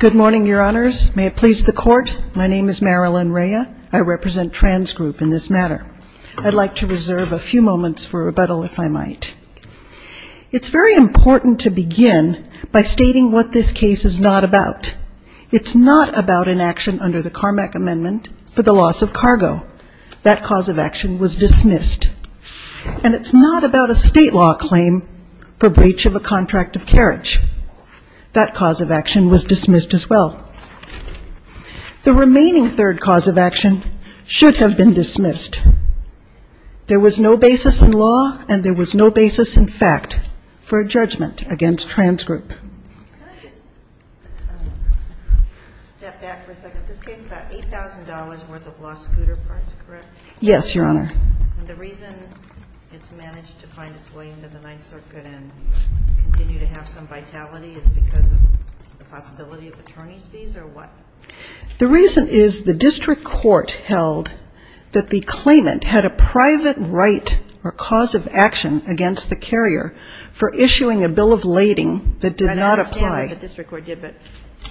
Good morning, your honors. May it please the court, my name is Marilyn Rea. I represent Transgroup in this matter. I'd like to reserve a few moments for rebuttal if I might. It's very important to begin by stating what this case is not about. It's not about an action under the Carmack Amendment for the loss of cargo. That cause of action was dismissed. And it's not about a state law claim for breach of a contract of carriage. That cause of action was dismissed as well. The remaining third cause of action should have been dismissed. There was no basis in law and there was no basis in fact for a judgment against Transgroup. Can I just step back for a second? This case is about $8,000 worth of lost scooter parts, correct? Yes, your honor. And the reason it's managed to find its way into the Ninth Circuit and continue to have some vitality is because of the possibility of attorney's fees or what? The reason is the district court held that the claimant had a private right or cause of action against the carrier for issuing a bill of lading that did not apply. I understand what the district court did, but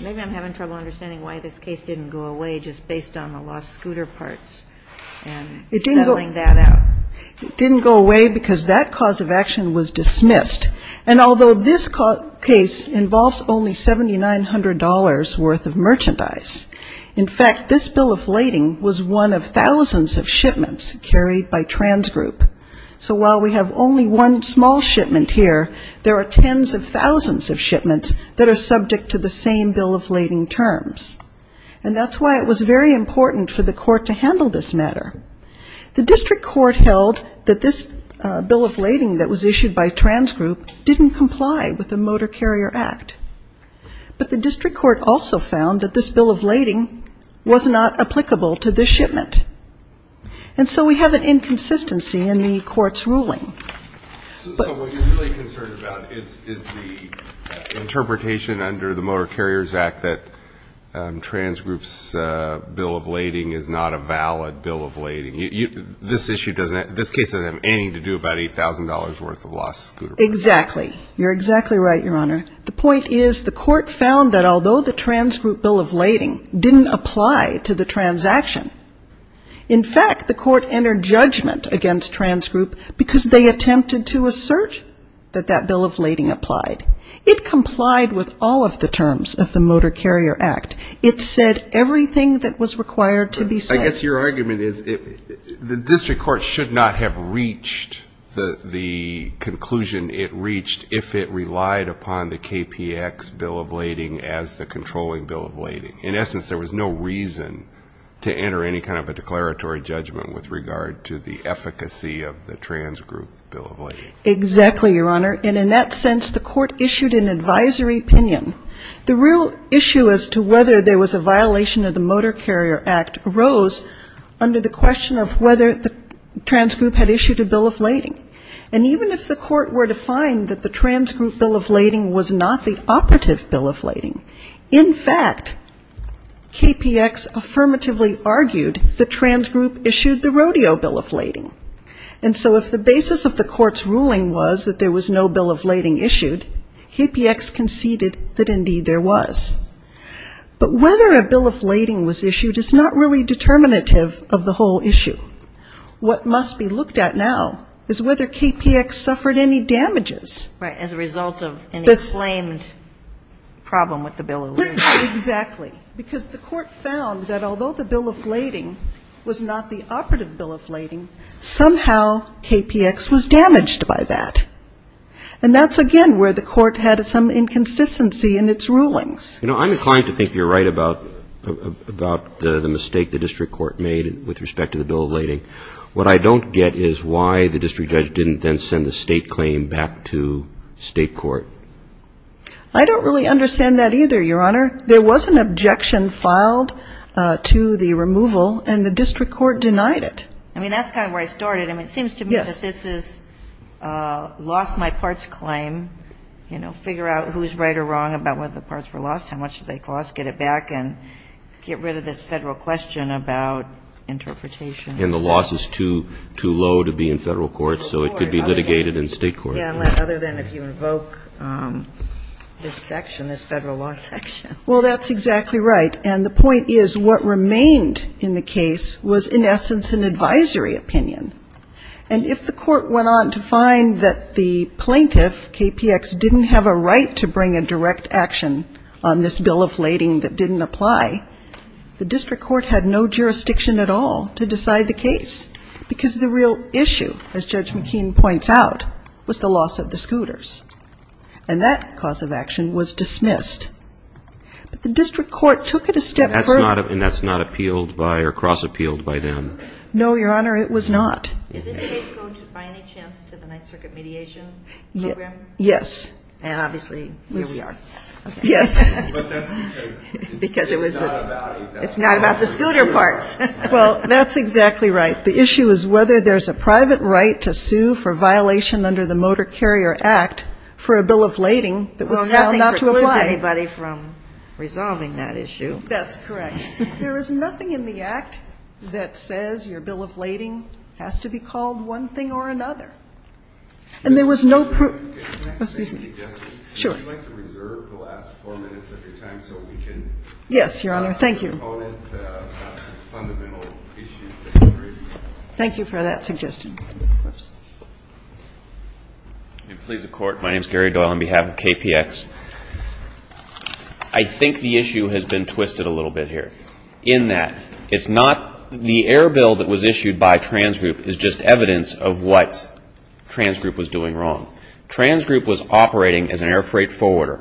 maybe I'm having trouble understanding why this case didn't go away just based on the lost scooter parts and settling that out. It didn't go away because that cause of action was dismissed. And although this case involves only $7,900 worth of merchandise, in fact, this bill of lading was one of thousands of shipments carried by Transgroup. So while we have only one small shipment here, there are tens of thousands of shipments that are subject to the same bill of lading terms. And that's why it was very important for the court to handle this matter. The district court held that this bill of lading that was issued by Transgroup didn't comply with the Motor Carrier Act. But the district court also found that this bill of lading was not applicable to this shipment. And so we have an inconsistency in the court's ruling. So what you're really concerned about is the interpretation under the Motor Carriers Act that Transgroup's bill of lading is not a valid bill of lading. This case doesn't have anything to do about $8,000 worth of lost scooter parts. Exactly. You're exactly right, Your Honor. The point is the court found that although the Transgroup bill of lading didn't apply to the transaction, in fact, the court entered judgment against Transgroup because they attempted to assert that that bill of lading applied. It complied with all of the terms of the Motor Carrier Act. It said everything that was required to be said. I guess your argument is the district court should not have reached the conclusion it reached if it relied upon the KPX bill of lading as the controlling bill of lading. In essence, there was no reason to enter any kind of a declaratory judgment with regard to the efficacy of the Transgroup bill of lading. Exactly, Your Honor. And in that sense, the court issued an advisory opinion. The real issue as to whether there was a violation of the Motor Carrier Act arose under the question of whether the Transgroup had issued a bill of lading. And even if the court were to find that the Transgroup bill of lading was not the operative bill of lading, in fact, KPX affirmatively argued the Transgroup issued the Rodeo bill of lading. And so if the basis of the court's ruling was that there was no bill of lading issued, KPX conceded that indeed there was. But whether a bill of lading was issued is not really determinative of the whole issue. What must be looked at now is whether KPX suffered any damages. Right, as a result of an exclaimed problem with the bill of lading. Exactly. Because the court found that although the bill of lading was not the operative bill of lading, somehow KPX was damaged by that. And that's again where the court had some inconsistency in its rulings. You know, I'm inclined to think you're right about the mistake the district court made with respect to the bill of lading. What I don't get is why the district judge didn't then send the state claim back to state court. I don't really understand that either, Your Honor. There was an objection filed to the I mean, that's kind of where I started. I mean, it seems to me that this is a lost-my-parts claim, you know, figure out who's right or wrong about whether the parts were lost, how much did they cost, get it back, and get rid of this Federal question about interpretation. And the loss is too low to be in Federal court, so it could be litigated in state court. Yeah, other than if you invoke this section, this Federal law section. Well, that's exactly right. And the point is what remained in the case was in essence an advisory opinion. And if the court went on to find that the plaintiff, KPX, didn't have a right to bring a direct action on this bill of lading that didn't apply, the district court had no jurisdiction at all to decide the case because the real issue, as Judge McKean points out, was the loss of the scooters. And that cause of action was dismissed. But the district court took it a step further. And that's not appealed by or cross-appealed by them? No, Your Honor, it was not. Is this case going to by any chance to the Ninth Circuit mediation program? Yes. And obviously, here we are. Yes. But that's because it's not about the scooter parts. Well, that's exactly right. The issue is whether there's a private right to sue for a bill of lading that was found not to apply. Well, nothing prevents anybody from resolving that issue. That's correct. There is nothing in the act that says your bill of lading has to be called one thing or another. And there was no... Can I make a suggestion? Sure. Would you like to reserve the last four minutes of your time so we can... Yes, Your Honor. Thank you. ...ask the proponent of the fundamental issues that you're raising? Thank you for that suggestion. And please, the Court, my name is Gary Doyle on behalf of KPX. I think the issue has been twisted a little bit here in that it's not the air bill that was issued by Trans Group is just evidence of what Trans Group was doing wrong. Trans Group was operating as an air freight forwarder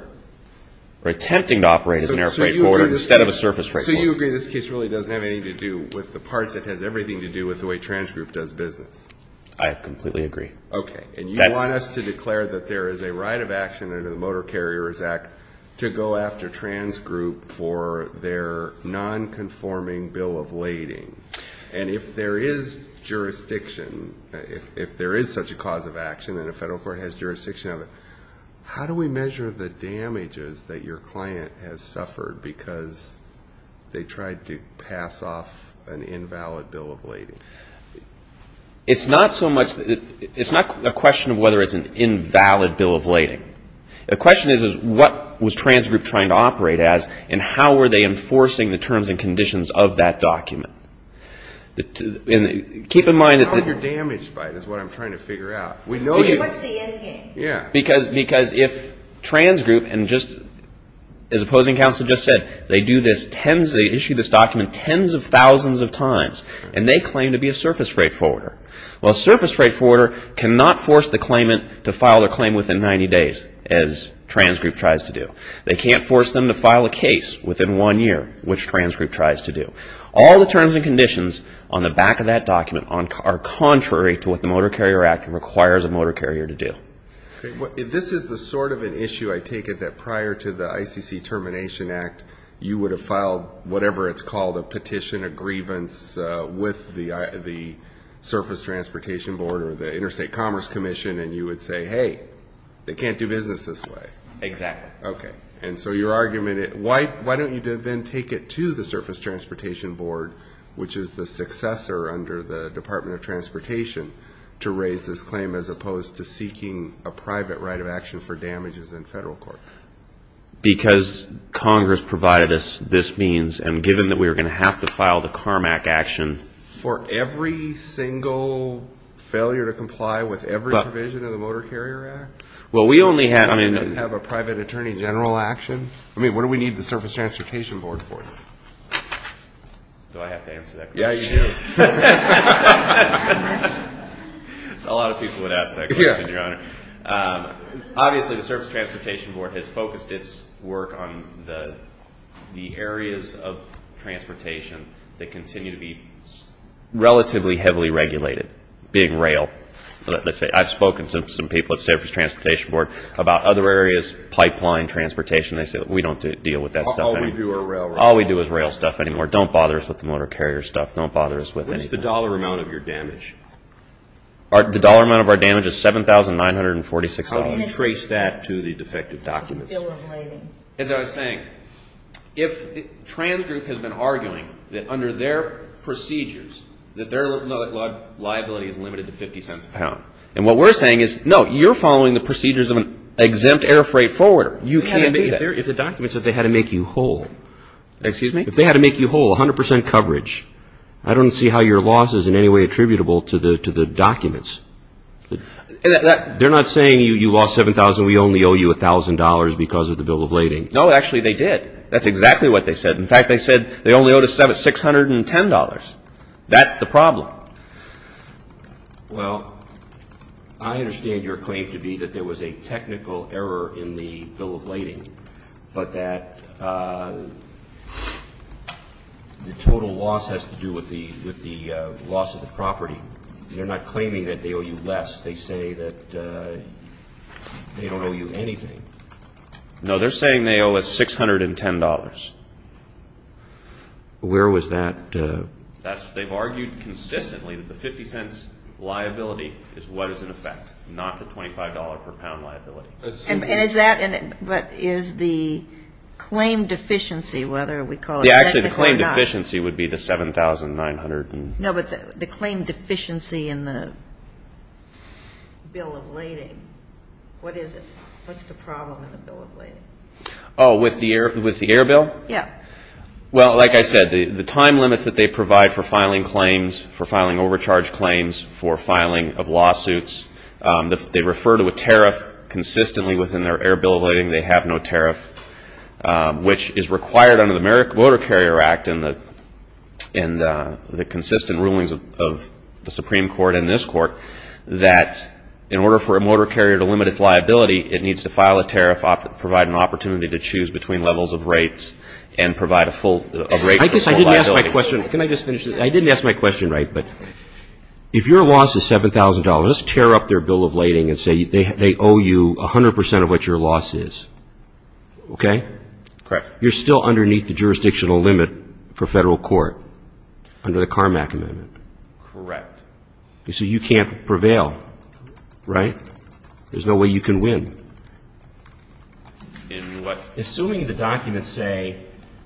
or attempting to operate as an air freight forwarder instead of a surface freight forwarder. So you agree this case really doesn't have anything to do with the parts. It has everything to do with the way Trans Group does business. I completely agree. Okay. And you want us to declare that there is a right of action under the Motor Carriers Act to go after Trans Group for their non-conforming bill of lading. And if there is jurisdiction, if there is such a cause of action and a federal court has jurisdiction of it, how do we measure the damages that your client has suffered because they tried to pass off an invalid bill of lading? It's not a question of whether it's an invalid bill of lading. The question is what was Trans Group trying to operate as and how were they enforcing the terms and conditions of that document? Keep in mind that... How are you damaged by it is what I'm trying to figure out. We know you... What's the end game? Because if Trans Group and just as opposing counsel just said, they do this, they issue this document tens of thousands of times and they claim to be a surface freight forwarder. Well, a surface freight forwarder cannot force the claimant to file their claim within 90 days as Trans Group tries to do. They can't force them to file a case within one year, which Trans Group tries to do. All the terms and conditions on the back of that document are contrary to what the Motor Carrier Act requires a motor carrier to do. This is the sort of an issue I take it that prior to the ICC Termination Act, you would have filed whatever it's called, a petition, a grievance, with the Surface Transportation Board or the Interstate Commerce Commission and you would say, hey, they can't do business this way. Exactly. Okay. And so your argument, why don't you then take it to the Surface Transportation Board, which is the successor under the Department of Transportation, to raise this claim as opposed to seeking a private right of action for damages in federal court? Because Congress provided us this means and given that we were going to have to file the CARMAC action. For every single failure to comply with every provision of the Motor Carrier Act? Well, we only have a private attorney general action. I mean, what do we need the Surface Transportation Board for? Do I have to answer that question? Yeah, you do. A lot of people would ask that question, Your Honor. Obviously, the Surface Transportation Board has focused its work on the areas of transportation that continue to be relatively heavily regulated, being rail. I've spoken to some people at the Surface Transportation Board about other areas, pipeline, transportation. They say, we don't deal with that stuff anymore. All we do is rail. All we do is rail stuff anymore. Don't bother us with the motor carrier stuff. Don't bother us with anything. What is the dollar amount of your damage? The dollar amount of our damage is $7,946. How do you trace that to the defective documents? As I was saying, if Trans Group has been arguing that under their procedures, that their liability is limited to 50 cents a pound. And what we're saying is, no, you're following the procedures of an exempt air freight forwarder. You can't do that. If the document said they had to make you whole. Excuse me? If they had to make you whole, 100% coverage, I don't see how your loss is in any way attributable to the documents. They're not saying you lost $7,000. We only owe you $1,000 because of the bill of lading. No, actually, they did. That's exactly what they said. In fact, they said they only owed us $610. That's the problem. Well, I understand your claim to be that there was a technical error in the bill of lading, but that the total loss has to do with the loss of the property. They're not claiming that they owe you less. They say that they don't owe you anything. No, they're saying they owe us $610. Where was that? They've argued consistently that the 50 cents liability is what is in effect, not the $25 per pound liability. But is the claim deficiency, whether we call it technical or not? Yeah, actually, the claim deficiency would be the $7,900. No, but the claim deficiency in the bill of lading, what is it? What's the problem in the bill of lading? Oh, with the air bill? Yeah. Well, like I said, the time limits that they provide for filing claims, for filing overcharge claims, for filing of lawsuits, they refer to a tariff consistently within their air bill of lading. They have no tariff, which is required under the Motor Carrier Act and the consistent rulings of the Supreme Court and this Court, that in order for a motor carrier to limit its liability, it needs to file a tariff, provide an opportunity to choose between levels of rates, and provide a full rate of liability. I guess I didn't ask my question. Can I just finish this? I didn't ask my question right, but if your loss is $7,000, let's tear up their bill of lading and say they owe you 100% of what your loss is, okay? Correct. You're still underneath the jurisdictional limit for federal court under the Carmack Amendment. Correct. So you can't prevail, right? There's no way you can win. Assuming the documents say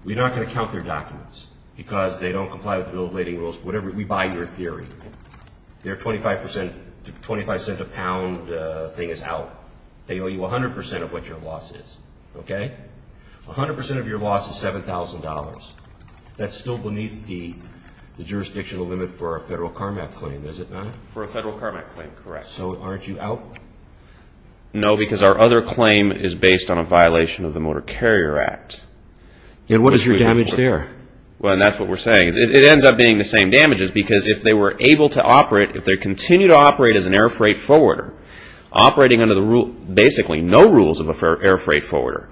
we're not going to count their documents because they don't comply with the bill of lading rules, we buy your theory. Their 25-cent-a-pound thing is out. They owe you 100% of what your loss is, okay? 100% of your loss is $7,000. That's still beneath the jurisdictional limit for a federal Carmack claim, is it not? For a federal Carmack claim, correct. So aren't you out? No, because our other claim is based on a violation of the Motor Carrier Act. And what is your damage there? Well, and that's what we're saying. It ends up being the same damages because if they were able to operate, if they continue to operate as an air freight forwarder, operating under basically no rules of an air freight forwarder,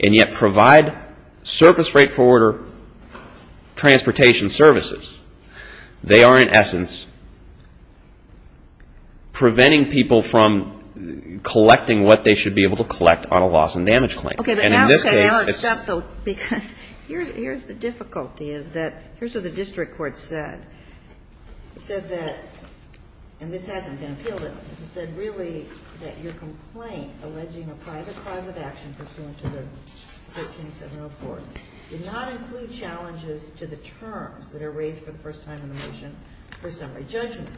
and yet provide surface freight forwarder transportation services, they are in essence preventing people from collecting what they should be able to collect on a loss and damage claim. Okay, but I'll accept, though, because here's the difficulty, is that here's what the district court said. It said that, and this hasn't been appealed in, it said really that your complaint alleging a private cause of action pursuant to the 13704 did not include challenges to the terms that are raised for the first time in the motion for summary judgment.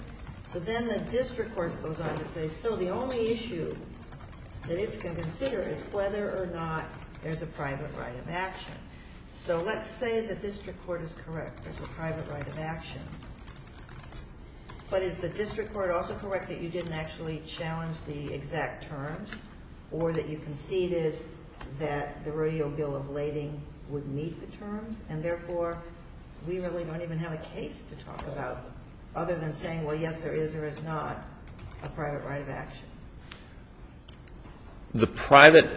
So then the district court goes on to say, so the only issue that it can consider is whether or not there's a private right of action. So let's say the district court is correct. There's a private right of action. But is the district court also correct that you didn't actually challenge the exact terms or that you conceded that the rodeo bill of lading would meet the terms, and therefore we really don't even have a case to talk about other than saying, well, yes, there is or is not a private right of action. The private,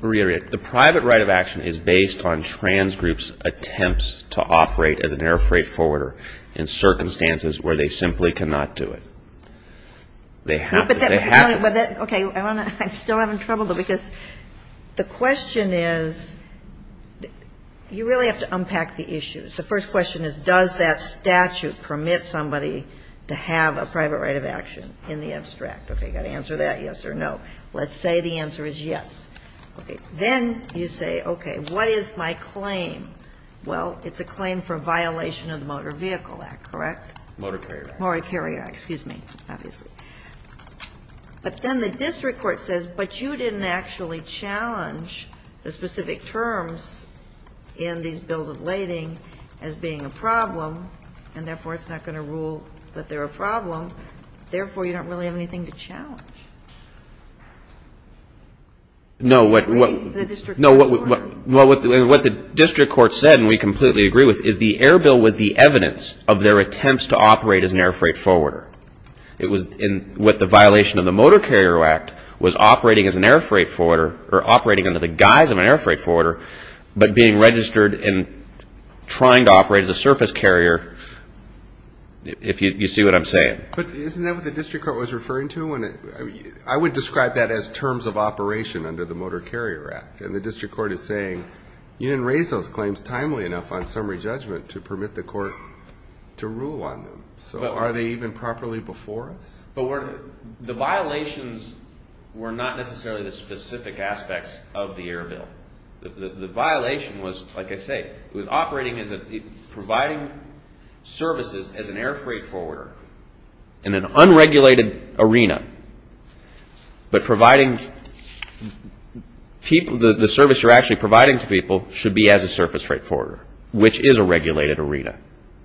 reiterate, the private right of action is based on trans groups' attempts to operate as an air freight forwarder in circumstances where they simply cannot do it. They have to. They have to. Okay. I'm still having trouble, because the question is, you really have to unpack the issues. The first question is, does that statute permit somebody to have a private right of action in the abstract? Okay. Got to answer that, yes or no. Let's say the answer is yes. Okay. Then you say, okay, what is my claim? Well, it's a claim for violation of the Motor Vehicle Act, correct? Motor Carrier Act. Motor Carrier Act. Excuse me, obviously. But then the district court says, but you didn't actually challenge the specific terms in these bills of lading as being a problem, and therefore it's not going to rule that they're a problem, therefore you don't really have anything to challenge. No, what the district court said, and we completely agree with, is the Air Bill was the evidence of their attempts to operate as an air freight forwarder. It was in what the violation of the Motor Carrier Act was operating as an air freight forwarder, or operating under the guise of an air freight forwarder, but being registered and trying to operate as a surface carrier, if you see what I'm saying. But isn't that what the district court was referring to? I would describe that as terms of operation under the Motor Carrier Act. And the district court is saying, you didn't raise those claims timely enough on summary judgment to permit the court to rule on them. So are they even properly before us? The violations were not necessarily the specific aspects of the Air Bill. The violation was, like I say, was operating as a, providing services as an air freight forwarder in an unregulated arena, but providing people, the service you're actually providing to people should be as a surface freight forwarder, which is a regulated arena,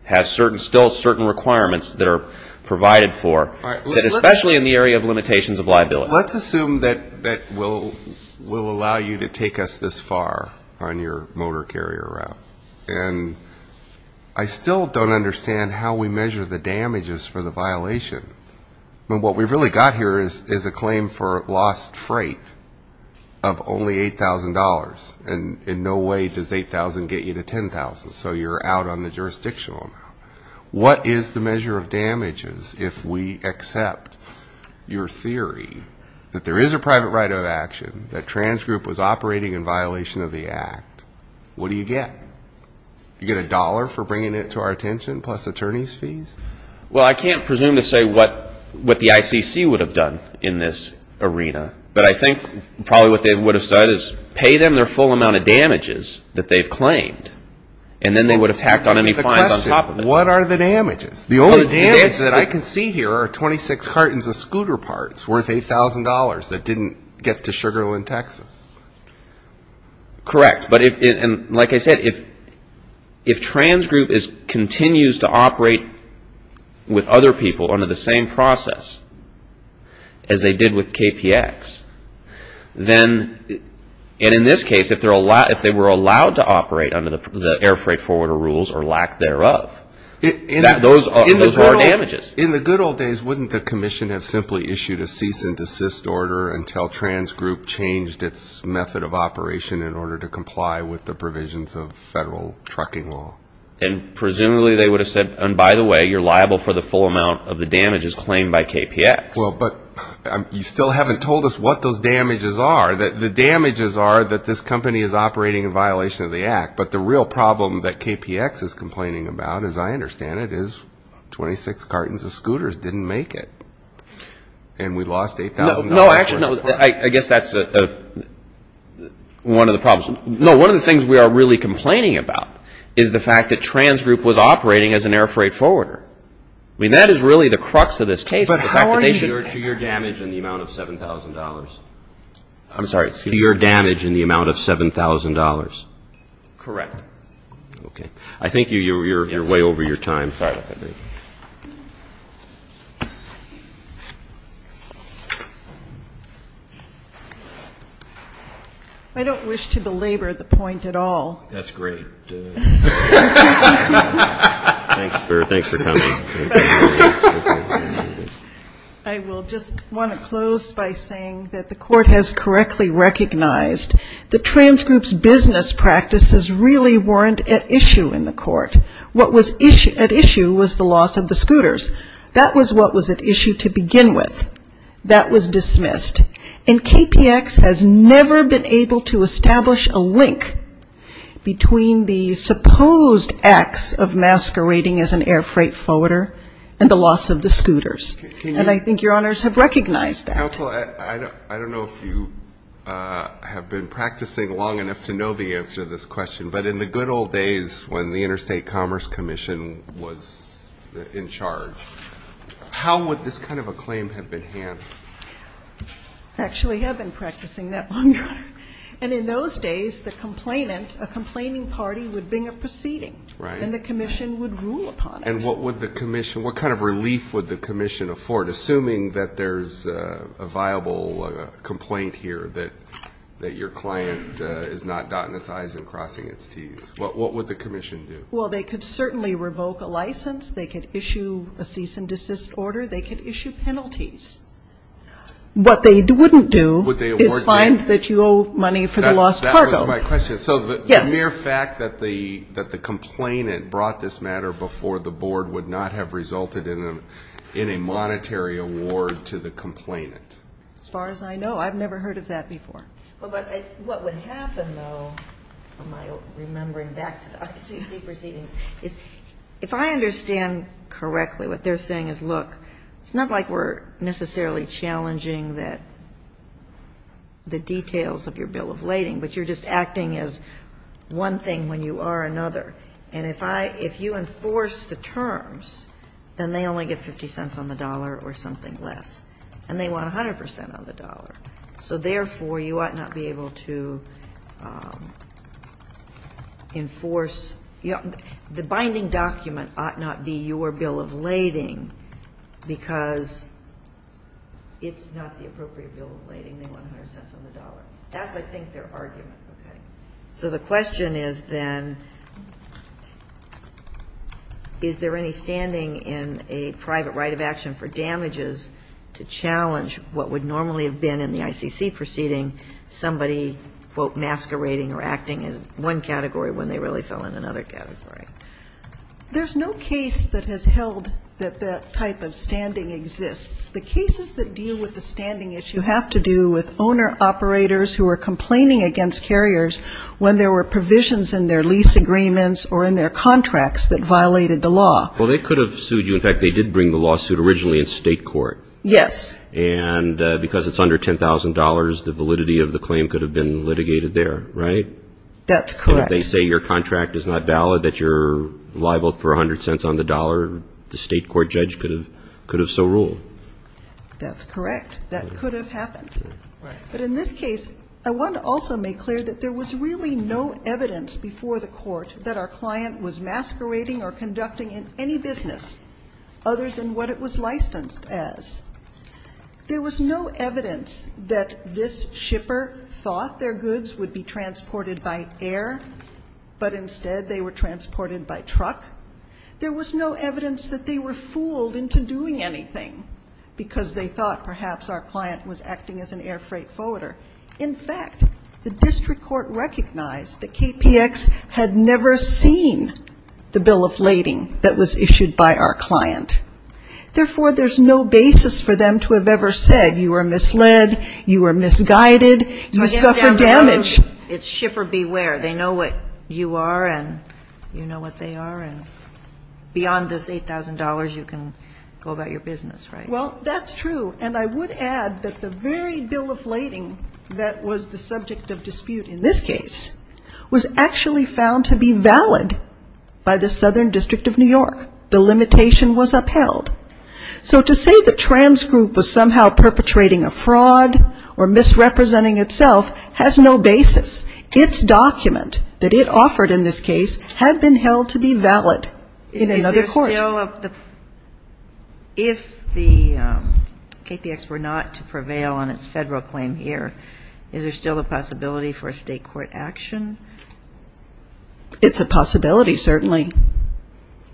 has certain, still certain requirements that are provided for, especially in the area of limitations of liability. But let's assume that will allow you to take us this far on your motor carrier route. And I still don't understand how we measure the damages for the violation. I mean, what we've really got here is a claim for lost freight of only $8,000. And in no way does $8,000 get you to $10,000. So you're out on the jurisdictional amount. What is the measure of damages if we accept your theory that there is a private right of action, that Trans Group was operating in violation of the act? What do you get? You get a dollar for bringing it to our attention plus attorney's fees? Well, I can't presume to say what the ICC would have done in this arena. But I think probably what they would have said is pay them their full amount of damages that they've claimed. And then they would have tacked on any fines on top of it. So what are the damages? The only damages that I can see here are 26 cartons of scooter parts worth $8,000 that didn't get to Sugar Land, Texas. Correct. And like I said, if Trans Group continues to operate with other people under the same process as they did with KPX, then in this case, if they were allowed to In the good old days, wouldn't the commission have simply issued a cease and desist order until Trans Group changed its method of operation in order to comply with the provisions of federal trucking law? And presumably they would have said, and by the way, you're liable for the full amount of the damages claimed by KPX. Well, but you still haven't told us what those damages are. The damages are that this company is operating in violation of the act. But the real problem that KPX is complaining about, as I understand it, is 26 cartons of scooters didn't make it. And we lost $8,000. No, actually, I guess that's one of the problems. No, one of the things we are really complaining about is the fact that Trans Group was operating as an air freight forwarder. I mean, that is really the crux of this case. But how are you to your damage in the amount of $7,000? I'm sorry. To your damage in the amount of $7,000. Correct. Okay. I think you're way over your time. Sorry about that. I don't wish to belabor the point at all. That's great. Thanks for coming. I will just want to close by saying that the Court has correctly recognized that Trans Group's business practices really weren't at issue in the court. What was at issue was the loss of the scooters. That was what was at issue to begin with. That was dismissed. And KPX has never been able to establish a link between the supposed acts of masquerading as an air freight forwarder and the loss of the scooters. And I think Your Honors have recognized that. Counsel, I don't know if you have been practicing long enough to know the answer to this question, but in the good old days when the Interstate Commerce Commission was in charge, how would this kind of a claim have been handled? Actually have been practicing that long ago. And in those days, the complainant, a complaining party, would bring a proceeding. Right. And the Commission would rule upon it. And what would the Commission, what kind of relief would the Commission afford, assuming that there's a viable complaint here, that your client is not dotting its I's and crossing its T's? What would the Commission do? Well, they could certainly revoke a license. They could issue a cease and desist order. They could issue penalties. What they wouldn't do is find that you owe money for the lost cargo. That was my question. So the mere fact that the complainant brought this matter before the Board would not have resulted in a monetary award to the complainant. As far as I know. I've never heard of that before. Well, but what would happen, though, remembering back to the ICC proceedings, is if I understand correctly, what they're saying is, look, it's not like we're necessarily challenging the details of your bill of lading, but you're just acting as one thing when you are another. And if you enforce the terms, then they only get 50 cents on the dollar or something less. And they want 100 percent on the dollar. So, therefore, you ought not be able to enforce. The binding document ought not be your bill of lading, because it's not the appropriate bill of lading. They want 100 cents on the dollar. That's, I think, their argument. Okay. So the question is, then, is there any standing in a private right of action for damages to challenge what would normally have been in the ICC proceeding, somebody, quote, masquerading or acting as one category when they really fell in another category? There's no case that has held that that type of standing exists. The cases that deal with the standing issue have to do with owner-operators who are complaining against carriers when there were provisions in their lease agreements or in their contracts that violated the law. Well, they could have sued you. In fact, they did bring the lawsuit originally in state court. Yes. And because it's under $10,000, the validity of the claim could have been litigated there, right? That's correct. And if they say your contract is not valid, that you're liable for 100 cents on the dollar, the state court judge could have so ruled. That's correct. That could have happened. But in this case, I want to also make clear that there was really no evidence before the court that our client was masquerading or conducting in any business other than what it was licensed as. There was no evidence that this shipper thought their goods would be transported by air, but instead they were transported by truck. There was no evidence that they were fooled into doing anything because they thought perhaps our client was acting as an air freight forwarder. In fact, the district court recognized that KPX had never seen the bill of lading that was issued by our client. Therefore, there's no basis for them to have ever said you were misled, you were misguided, you suffered damage. It's shipper beware. They know what you are and you know what they are. And beyond this $8,000, you can go about your business, right? Well, that's true. And I would add that the very bill of lading that was the subject of dispute in this case was actually found to be valid by the Southern District of New York. The limitation was upheld. So to say the trans group was somehow perpetrating a fraud or misrepresenting itself has no basis. Its document that it offered in this case had been held to be valid in another court. If the KPX were not to prevail on its federal claim here, is there still a possibility for a state court action? It's a possibility, certainly.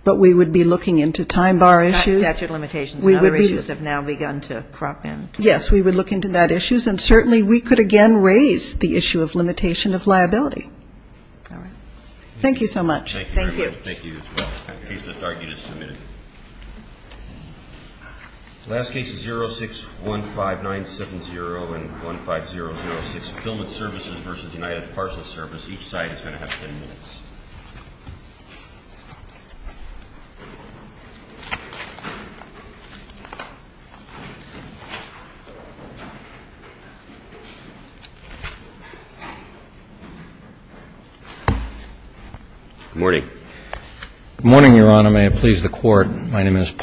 But we would be looking into time bar issues. Not statute of limitations. Other issues have now begun to crop in. Yes, we would look into that issue. And certainly we could again raise the issue of limitation of liability. All right. Thank you so much. Thank you. Thank you. He's just argued and submitted. Last case is 06-15970 and 15006, Fillman Services versus United Parcel Service. Each side is going to have ten minutes. Good morning, Your Honor.